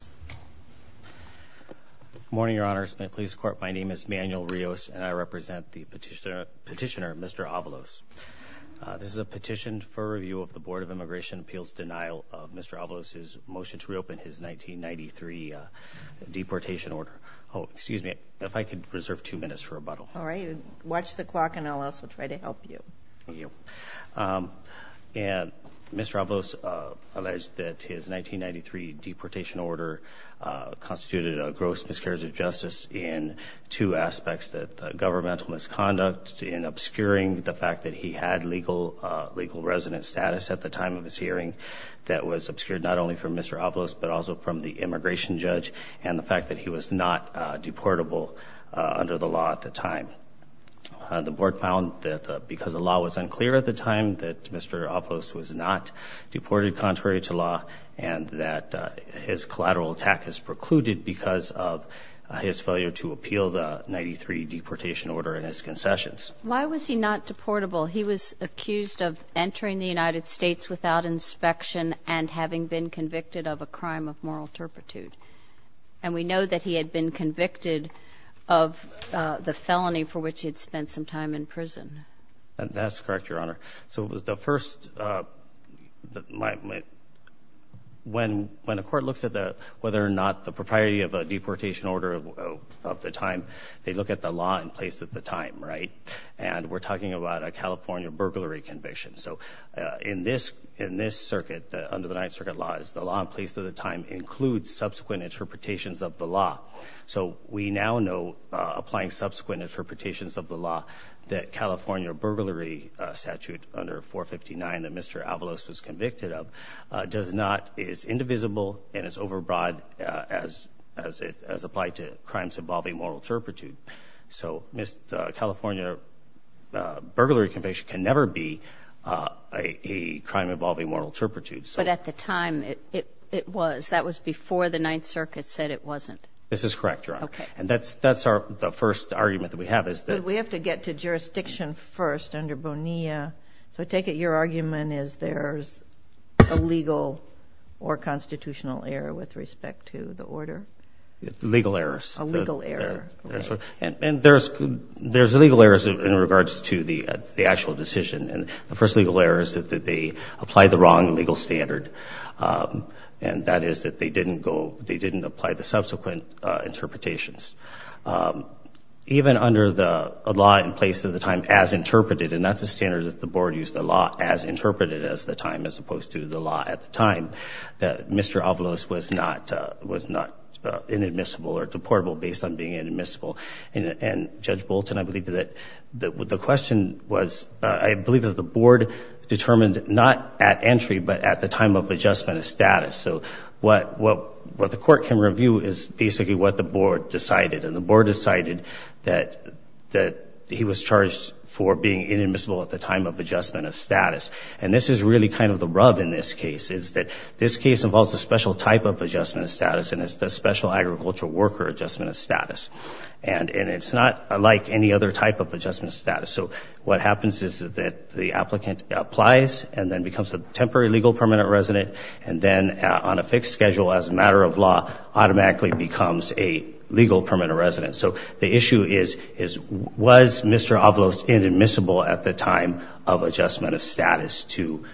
Good morning, Your Honor. Smith Police Court. My name is Manuel Rios and I represent the petitioner Mr. Avalos. This is a petition for review of the Board of Immigration Appeals denial of Mr. Avalos' motion to reopen his 1993 deportation order. Oh, excuse me. If I could reserve two minutes for rebuttal. All right. Watch the clock and I'll also try to help you. Mr. Avalos alleged that his 1993 deportation order constituted a gross miscarriage of justice in two aspects, that governmental misconduct in obscuring the fact that he had legal resident status at the time of his hearing that was obscured not only from Mr. Avalos but also from the immigration judge and the fact that he was not deportable under the law at the time. The board found that because the law was unclear at the time that Mr. Avalos was not deported contrary to law and that his collateral attack is precluded because of his failure to appeal the 93 deportation order and his concessions. Why was he not deportable? He was accused of entering the United States without inspection and having been convicted of a crime of moral turpitude. And we know that he had been convicted of the felony for which he had spent some time in prison. That's correct, Your Honor. So the first, when a court looks at whether or not the propriety of a deportation order of the time, they look at the law in place at the time, right? And we're talking about a California burglary conviction. So in this circuit, under the Ninth Circuit law, the law in place at the time includes subsequent interpretations of the law. So we now know, applying subsequent interpretations of the law, that California burglary statute under 459 that Mr. Avalos was convicted of is indivisible and is overbroad as applied to crimes involving moral turpitude. So California burglary conviction can never be a crime involving moral turpitude. But at the time, it was. That was before the Ninth Circuit said it wasn't. This is correct, Your Honor. Okay. And that's the first argument that we have is that— But we have to get to jurisdiction first under Bonilla. So I take it your argument is there's a legal or constitutional error with respect to the order? Legal errors. A legal error. And there's legal errors in regards to the actual decision. And the first legal error is that they applied the wrong legal standard, and that is that they didn't apply the subsequent interpretations. Even under the law in place at the time as interpreted, and that's a standard that the board used, the law as interpreted as the time as opposed to the law at the time, that Mr. Avalos was not inadmissible or deportable based on being inadmissible. And, Judge Bolton, I believe that the question was— I believe that the board determined not at entry but at the time of adjustment of status. So what the court can review is basically what the board decided. And the board decided that he was charged for being inadmissible at the time of adjustment of status. And this is really kind of the rub in this case, is that this case involves a special type of adjustment of status, and it's the special agricultural worker adjustment of status. And it's not like any other type of adjustment of status. So what happens is that the applicant applies and then becomes a temporary legal permanent resident, and then on a fixed schedule as a matter of law automatically becomes a legal permanent resident. So the issue is, was Mr. Avalos inadmissible at the time of adjustment of status to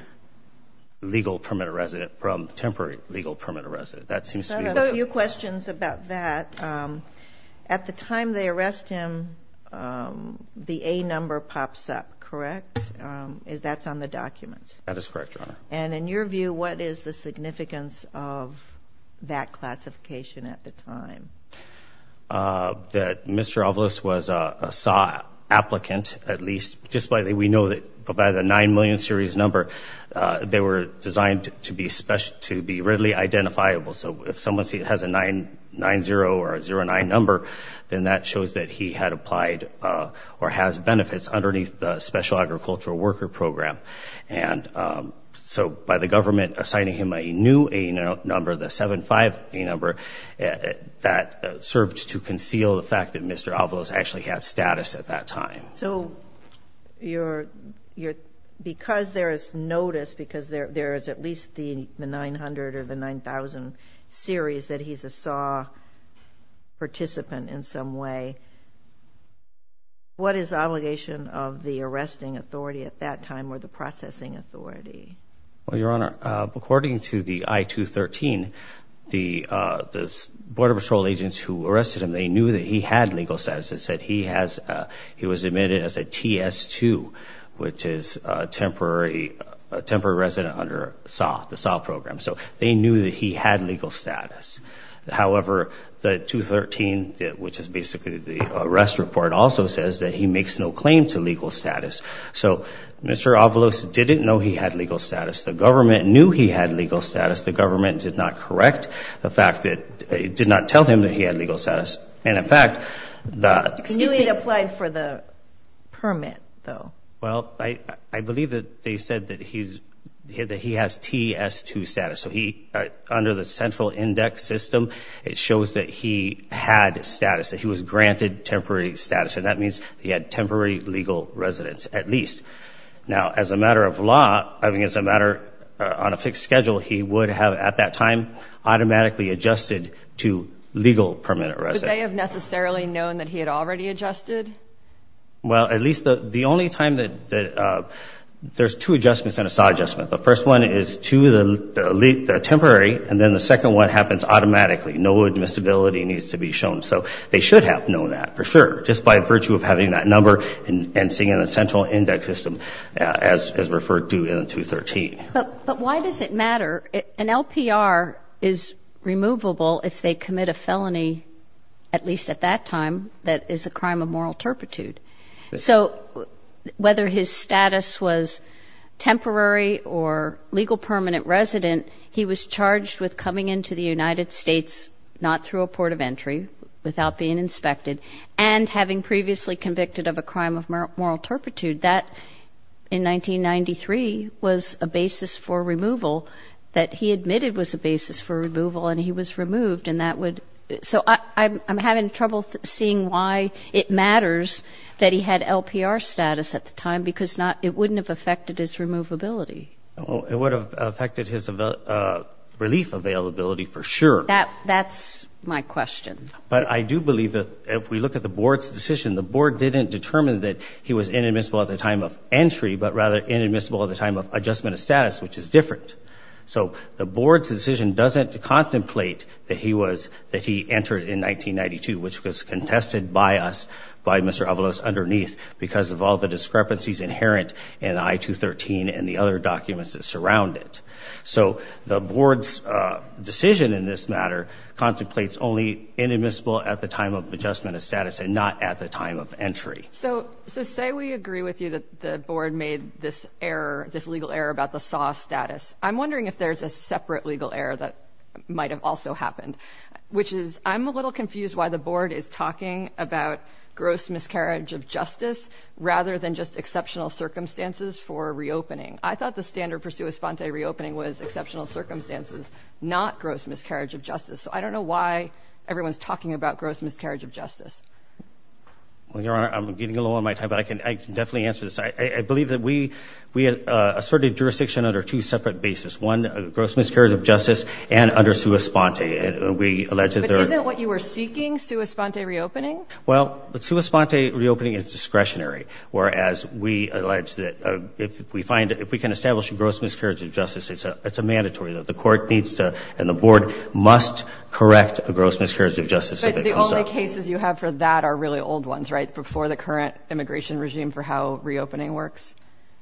legal permanent resident, from temporary legal permanent resident? That seems to be— I have a few questions about that. At the time they arrest him, the A number pops up, correct? That's on the document. That is correct, Your Honor. And in your view, what is the significance of that classification at the time? That Mr. Avalos was a SAW applicant, at least. Just like we know that by the 9 million series number, they were designed to be readily identifiable. So if someone has a 9-0 or a 0-9 number, then that shows that he had applied or has benefits underneath the special agricultural worker program. So by the government assigning him a new A number, the 7-5 A number, that served to conceal the fact that Mr. Avalos actually had status at that time. So because there is notice, because there is at least the 900 or the 9,000 series that he's a SAW participant in some way, what is the obligation of the arresting authority at that time or the processing authority? Well, Your Honor, according to the I-213, the Border Patrol agents who arrested him, they knew that he had legal status. It said he was admitted as a TS-2, which is a temporary resident under the SAW program. So they knew that he had legal status. However, the I-213, which is basically the arrest report, also says that he makes no claim to legal status. So Mr. Avalos didn't know he had legal status. The government knew he had legal status. The government did not correct the fact that it did not tell him that he had legal status. And, in fact, the— He knew he had applied for the permit, though. Well, I believe that they said that he has TS-2 status. So he, under the central index system, it shows that he had status, that he was granted temporary status. And that means he had temporary legal residence, at least. Now, as a matter of law, I mean, as a matter on a fixed schedule, he would have at that time automatically adjusted to legal permanent residence. Would they have necessarily known that he had already adjusted? Well, at least the only time that— There's two adjustments in a SAW adjustment. The first one is to the temporary, and then the second one happens automatically. No admissibility needs to be shown. So they should have known that, for sure, just by virtue of having that number and seeing the central index system as referred to in 213. But why does it matter? An LPR is removable if they commit a felony, at least at that time, that is a crime of moral turpitude. So whether his status was temporary or legal permanent resident, he was charged with coming into the United States not through a port of entry, without being inspected, and having previously convicted of a crime of moral turpitude. That, in 1993, was a basis for removal that he admitted was a basis for removal, and he was removed. So I'm having trouble seeing why it matters that he had LPR status at the time, because it wouldn't have affected his removability. It would have affected his relief availability, for sure. That's my question. But I do believe that if we look at the Board's decision, the Board didn't determine that he was inadmissible at the time of entry, but rather inadmissible at the time of adjustment of status, which is different. So the Board's decision doesn't contemplate that he entered in 1992, which was contested by us, by Mr. Avalos underneath, because of all the discrepancies inherent in I-213 and the other documents that surround it. So the Board's decision in this matter contemplates only inadmissible at the time of adjustment of status and not at the time of entry. So say we agree with you that the Board made this error, this legal error about the SAW status. I'm wondering if there's a separate legal error that might have also happened, which is I'm a little confused why the Board is talking about gross miscarriage of justice rather than just exceptional circumstances for reopening. I thought the standard for sua sponte reopening was exceptional circumstances, not gross miscarriage of justice. So I don't know why everyone's talking about gross miscarriage of justice. Well, Your Honor, I'm getting a little out of my time, but I can definitely answer this. I believe that we asserted jurisdiction under two separate bases, one gross miscarriage of justice and under sua sponte. And we allege that there are – But isn't what you were seeking sua sponte reopening? Well, sua sponte reopening is discretionary, whereas we allege that if we find – if we can establish a gross miscarriage of justice, it's a mandatory. The Court needs to and the Board must correct a gross miscarriage of justice if it comes up. The only cases you have for that are really old ones, right, before the current immigration regime for how reopening works?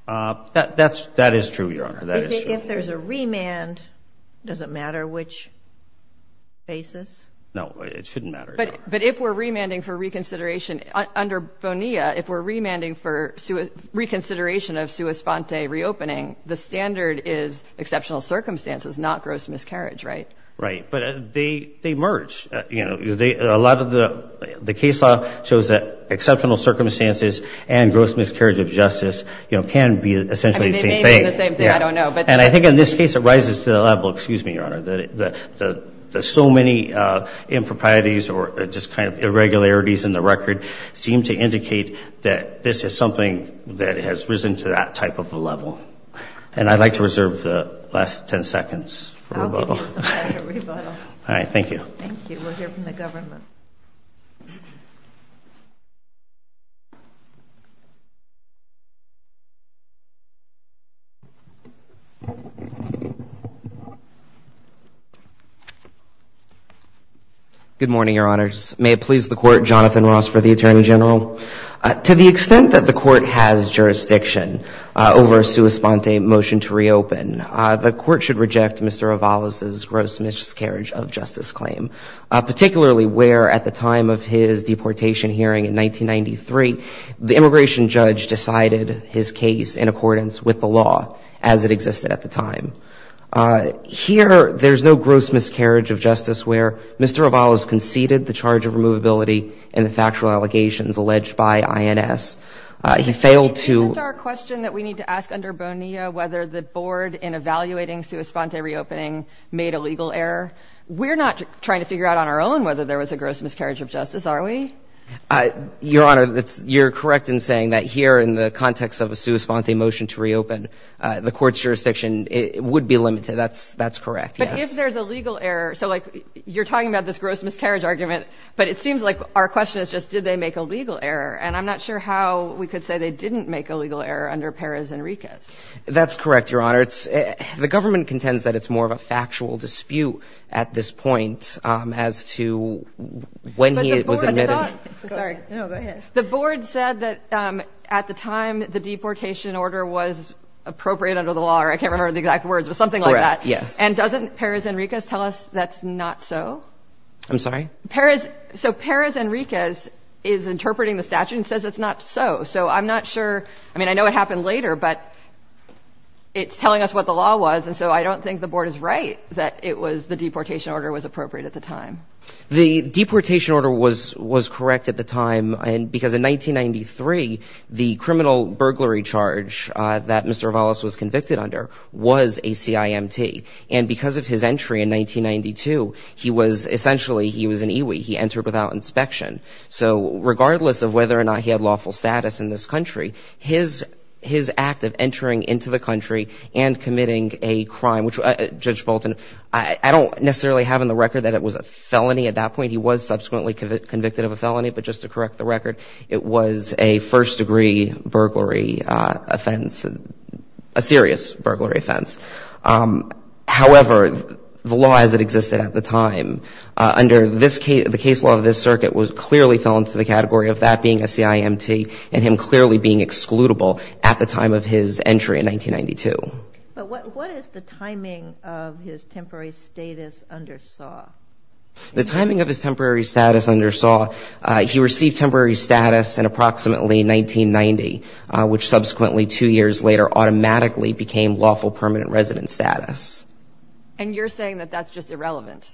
That is true, Your Honor. That is true. If there's a remand, does it matter which basis? No, it shouldn't matter, Your Honor. But if we're remanding for reconsideration under BONEA, if we're remanding for reconsideration of sua sponte reopening, the standard is exceptional circumstances, not gross miscarriage, right? Right. But they merge. You know, a lot of the case law shows that exceptional circumstances and gross miscarriage of justice, you know, can be essentially the same thing. I mean, they may be the same thing. I don't know. And I think in this case it rises to the level – excuse me, Your Honor – that so many improprieties or just kind of irregularities in the record seem to indicate that this is something that has risen to that type of a level. And I'd like to reserve the last 10 seconds for rebuttal. I'll give you some time to rebuttal. All right. Thank you. Thank you. We'll hear from the government. Good morning, Your Honors. May it please the Court, Jonathan Ross for the Attorney General. To the extent that the Court has jurisdiction over a sua sponte motion to reopen, the Court should reject Mr. Avalos' gross miscarriage of justice claim, particularly where at the time of his deportation hearing in 1993, the immigration judge decided his case in accordance with the law as it existed at the time. Here there's no gross miscarriage of justice where Mr. Avalos conceded the charge of removability in the factual allegations alleged by INS. He failed to – in evaluating sua sponte reopening made a legal error. We're not trying to figure out on our own whether there was a gross miscarriage of justice, are we? Your Honor, you're correct in saying that here in the context of a sua sponte motion to reopen, the Court's jurisdiction would be limited. That's correct, yes. But if there's a legal error – so like you're talking about this gross miscarriage argument, but it seems like our question is just did they make a legal error. And I'm not sure how we could say they didn't make a legal error under Perez Enriquez. That's correct, Your Honor. The government contends that it's more of a factual dispute at this point as to when he was admitted. The board said that at the time the deportation order was appropriate under the law, or I can't remember the exact words, but something like that. Correct, yes. And doesn't Perez Enriquez tell us that's not so? I'm sorry? So Perez Enriquez is interpreting the statute and says it's not so. So I'm not sure – I mean, I know it happened later, but it's telling us what the law was, and so I don't think the board is right that it was the deportation order was appropriate at the time. The deportation order was correct at the time because in 1993, the criminal burglary charge that Mr. Valas was convicted under was a CIMT. And because of his entry in 1992, he was – essentially he was an EWI. He entered without inspection. So regardless of whether or not he had lawful status in this country, his act of entering into the country and committing a crime, which Judge Bolton, I don't necessarily have on the record that it was a felony at that point. He was subsequently convicted of a felony, but just to correct the record, it was a first-degree burglary offense, a serious burglary offense. However, the law as it existed at the time, under this case – the case law of this circuit clearly fell into the category of that being a CIMT and him clearly being excludable at the time of his entry in 1992. But what is the timing of his temporary status under SAW? The timing of his temporary status under SAW, he received temporary status in approximately 1990, which subsequently two years later automatically became lawful permanent resident status. And you're saying that that's just irrelevant?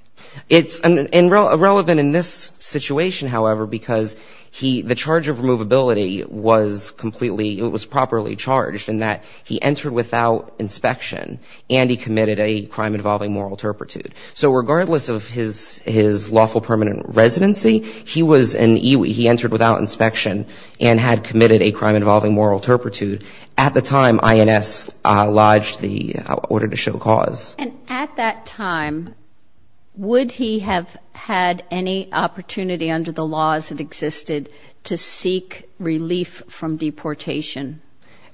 It's irrelevant in this situation, however, because he – the charge of removability was completely – it was properly charged in that he entered without inspection and he committed a crime involving moral turpitude. So regardless of his lawful permanent residency, he was an EWI. He entered without inspection and had committed a crime involving moral turpitude. At the time, INS lodged the order to show cause. And at that time, would he have had any opportunity under the laws that existed to seek relief from deportation?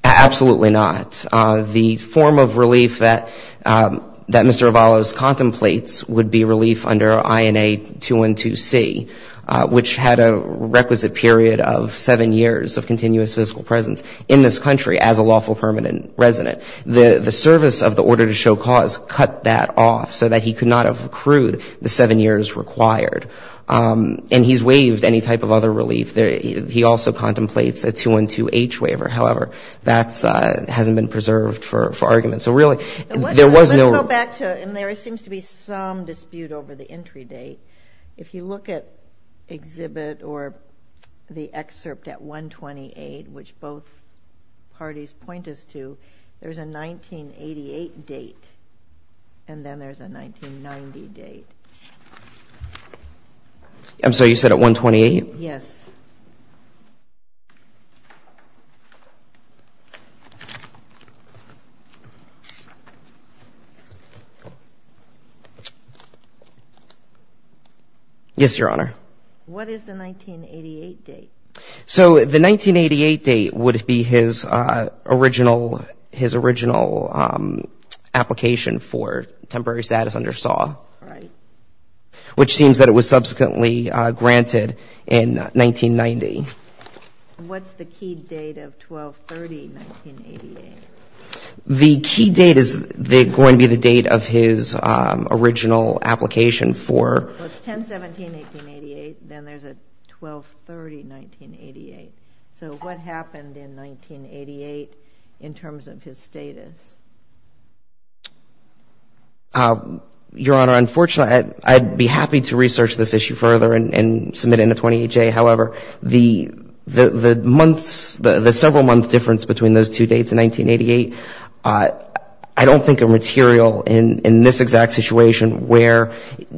Absolutely not. The form of relief that Mr. Avalos contemplates would be relief under INA 212C, which had a requisite period of seven years of continuous physical presence in this country as a lawful permanent resident. The service of the order to show cause cut that off so that he could not have accrued the seven years required. And he's waived any type of other relief. He also contemplates a 212H waiver. However, that hasn't been preserved for argument. So really, there was no – Let's go back to – and there seems to be some dispute over the entry date. If you look at Exhibit or the excerpt at 128, which both parties point us to, there's a 1988 date and then there's a 1990 date. I'm sorry, you said at 128? Yes. Yes, Your Honor. What is the 1988 date? So the 1988 date would be his original application for temporary status under SAW. Right. Which seems that it was subsequently granted in 1990. What's the key date of 12-30-1988? The key date is going to be the date of his original application for – So it's 10-17-1988. Then there's a 12-30-1988. So what happened in 1988 in terms of his status? Your Honor, unfortunately, I'd be happy to research this issue further and submit it in a 28-J. However, the months, the several-month difference between those two dates in 1988, I don't think are material in this exact situation where,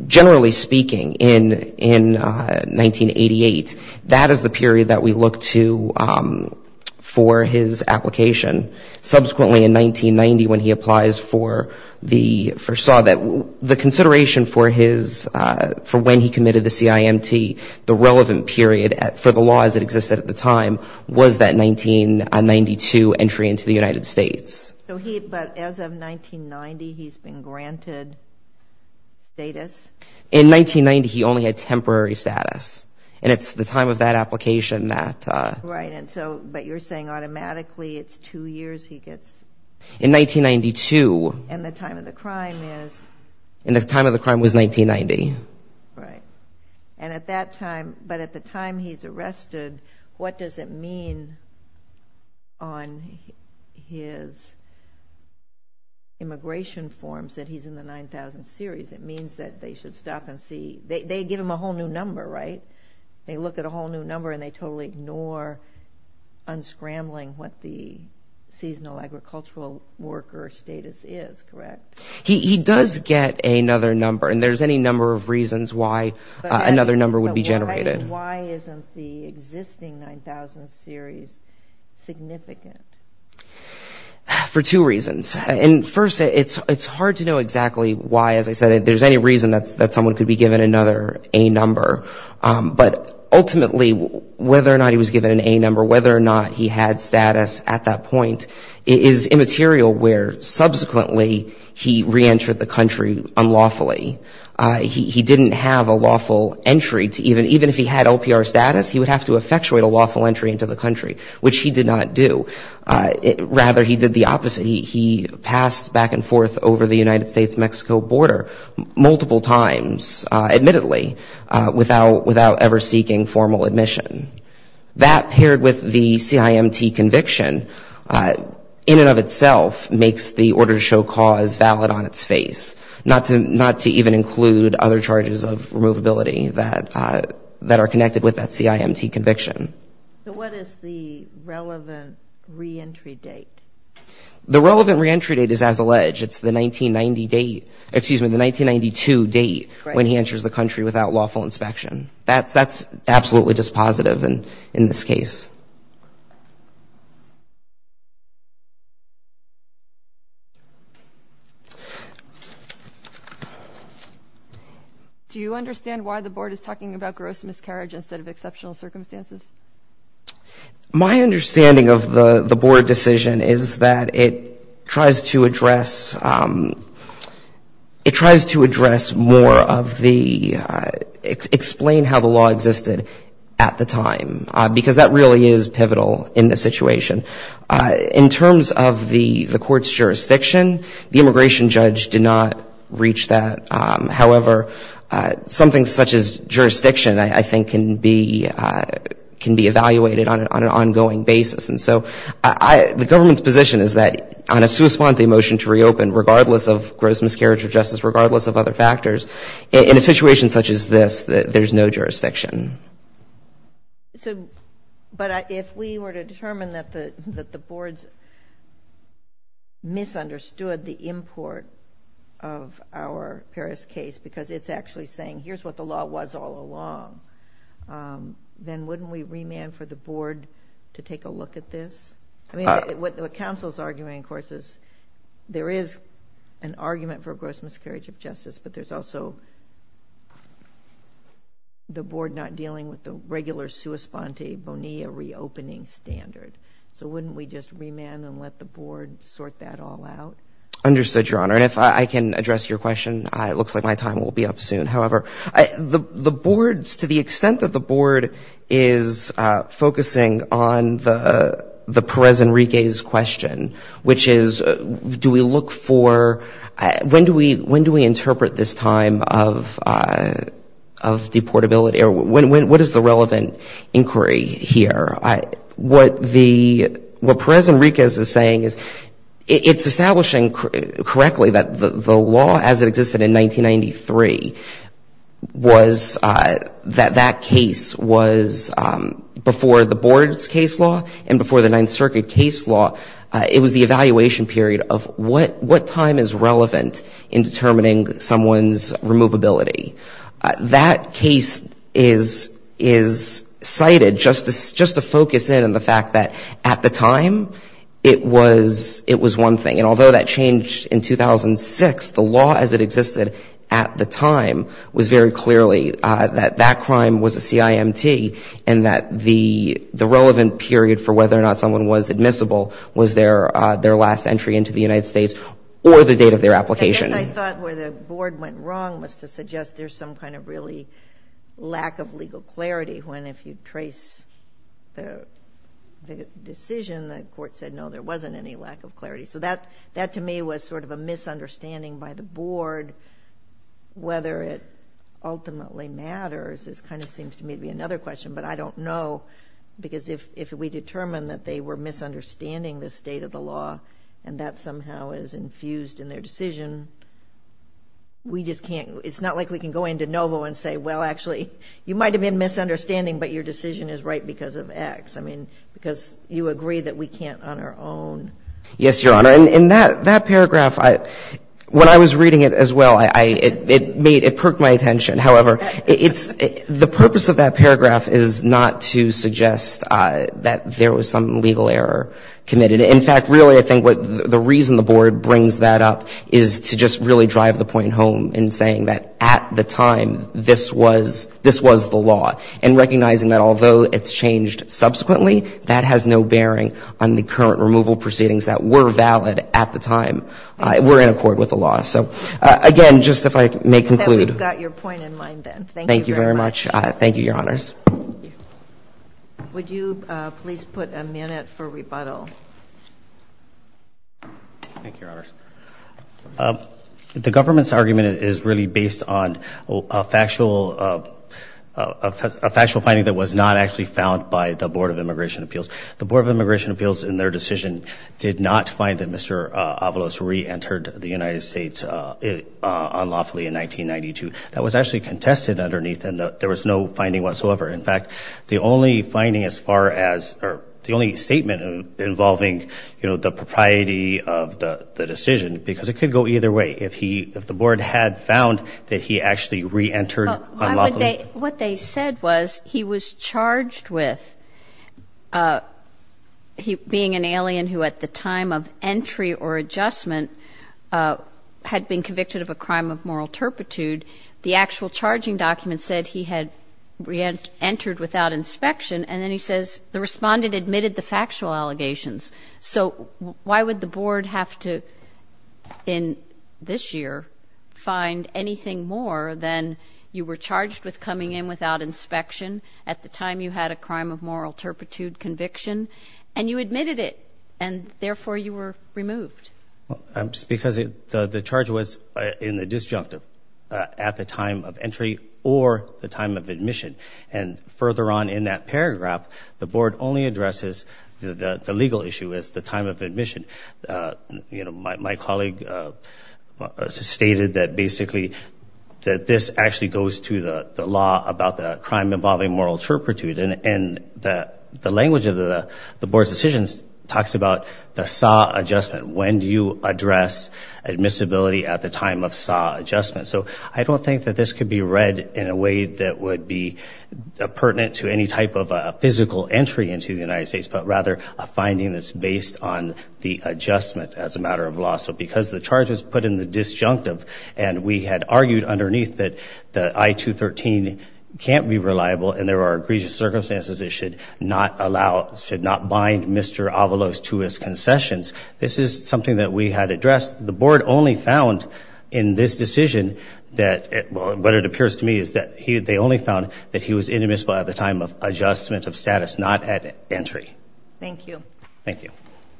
generally speaking, in 1988, that is the period that we look to for his application. Subsequently, in 1990, when he applies for SAW, the consideration for when he committed the CIMT, the relevant period for the law as it existed at the time, was that 1992 entry into the United States. But as of 1990, he's been granted status? In 1990, he only had temporary status. And it's the time of that application that – Right. But you're saying automatically it's two years he gets – In 1992. And the time of the crime is? And the time of the crime was 1990. Right. And at that time, but at the time he's arrested, what does it mean on his immigration forms that he's in the 9000 series? It means that they should stop and see – They give him a whole new number, right? They look at a whole new number and they totally ignore, unscrambling, what the seasonal agricultural worker status is, correct? He does get another number. And there's any number of reasons why another number would be generated. But why isn't the existing 9000 series significant? For two reasons. And first, it's hard to know exactly why, as I said, if there's any reason that someone could be given another A number. But ultimately, whether or not he was given an A number, whether or not he had status at that point, is immaterial where subsequently he reentered the country unlawfully. He didn't have a lawful entry to even – Even if he had LPR status, he would have to effectuate a lawful entry into the country, which he did not do. Rather, he did the opposite. He passed back and forth over the United States-Mexico border multiple times, admittedly, without ever seeking formal admission. That, paired with the CIMT conviction, in and of itself, makes the order to show cause valid on its face, not to even include other charges of removability that are connected with that CIMT conviction. So what is the relevant reentry date? The relevant reentry date is as alleged. It's the 1990 date – excuse me, the 1992 date when he enters the country without lawful inspection. That's absolutely dispositive in this case. Do you understand why the board is talking about gross miscarriage instead of exceptional circumstances? My understanding of the board decision is that it tries to address – it tries to address more of the – explain how the law existed at the time. Because that really is pivotal in the situation. In terms of the court's jurisdiction, the immigration judge did not reach that. However, something such as jurisdiction, I think, can be evaluated on an ongoing basis. And so the government's position is that on a sui sponte motion to reopen, regardless of gross miscarriage of justice, regardless of other factors, in a situation such as this, there's no jurisdiction. But if we were to determine that the boards misunderstood the import of our Paris case, because it's actually saying, here's what the law was all along, then wouldn't we remand for the board to take a look at this? I mean, what counsel's argument, of course, is there is an argument for gross miscarriage of justice, but there's also the board not dealing with the regular sui sponte Bonilla reopening standard. So wouldn't we just remand and let the board sort that all out? Understood, Your Honor. And if I can address your question, it looks like my time will be up soon. However, the boards, to the extent that the board is focusing on the Perez Enriquez question, which is do we look for, when do we interpret this time of deportability, or what is the relevant inquiry here? What Perez Enriquez is saying is it's establishing correctly that the law as it existed in 1993, was that that case was before the board's case law and before the Ninth Circuit case law, it was the evaluation period of what time is relevant in determining someone's removability. That case is cited just to focus in on the fact that at the time, it was one thing. And although that changed in 2006, the law as it existed at the time was very clearly that that crime was a CIMT and that the relevant period for whether or not someone was admissible was their last entry into the United States or the date of their application. I guess I thought where the board went wrong was to suggest there's some kind of really lack of legal clarity when if you trace the decision, the court said, no, there wasn't any lack of clarity. That to me was sort of a misunderstanding by the board. Whether it ultimately matters is kind of seems to me to be another question, but I don't know because if we determine that they were misunderstanding the state of the law and that somehow is infused in their decision, we just can't. It's not like we can go into Novo and say, well, actually, you might have been misunderstanding, but your decision is right because of X. I mean, because you agree that we can't on our own. Yes, Your Honor. And that paragraph, when I was reading it as well, it made, it perked my attention. However, the purpose of that paragraph is not to suggest that there was some legal error committed. In fact, really, I think the reason the board brings that up is to just really drive the point home in saying that at the time this was, this was the law. And recognizing that although it's changed subsequently, that has no bearing on the current removal proceedings that were valid at the time were in accord with the law. So again, just if I may conclude. We've got your point in mind then. Thank you very much. Thank you very much. Thank you, Your Honors. Would you please put a minute for rebuttal? Thank you, Your Honors. The government's argument is really based on a factual, a factual finding that was not actually found by the Board of Immigration Appeals. The Board of Immigration Appeals in their decision did not find that Mr. Avalos re-entered the United States unlawfully in 1992. That was actually contested underneath and there was no finding whatsoever. In fact, the only finding as far as, or the only statement involving, you know, the propriety of the decision because it could go either way if he, if the Board had found that he actually re-entered unlawfully. What they said was he was charged with being an alien who at the time of entry or adjustment had been convicted of a crime of moral turpitude. The actual charging document said he had re-entered without inspection. And then he says the respondent admitted the factual allegations. So why would the Board have to in this year find anything more than you were charged with coming in without inspection at the time you had a crime of moral turpitude conviction and you admitted it and therefore you were removed? Because the charge was in the disjunctive at the time of entry or the time of admission. And further on in that paragraph, the Board only addresses the legal issue as the time of admission. You know, my colleague stated that basically that this actually goes to the law about the crime involving moral turpitude. And the language of the Board's decisions talks about the SA adjustment, when do you address admissibility at the time of SA adjustment. So I don't think that this could be read in a way that would be pertinent to any type of physical entry into the United States, but rather a finding that's based on the adjustment as a matter of law. So because the charge was put in the disjunctive and we had argued underneath that the I-213 can't be reliable and there are egregious circumstances it should not bind Mr. Avalos to his concessions, this is something that we had addressed. The Board only found in this decision that what it appears to me is that they only found that he was inadmissible at the time of adjustment of status, not at entry. Thank you. Thank you.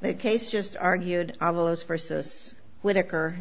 The case just argued Avalos v. Whitaker.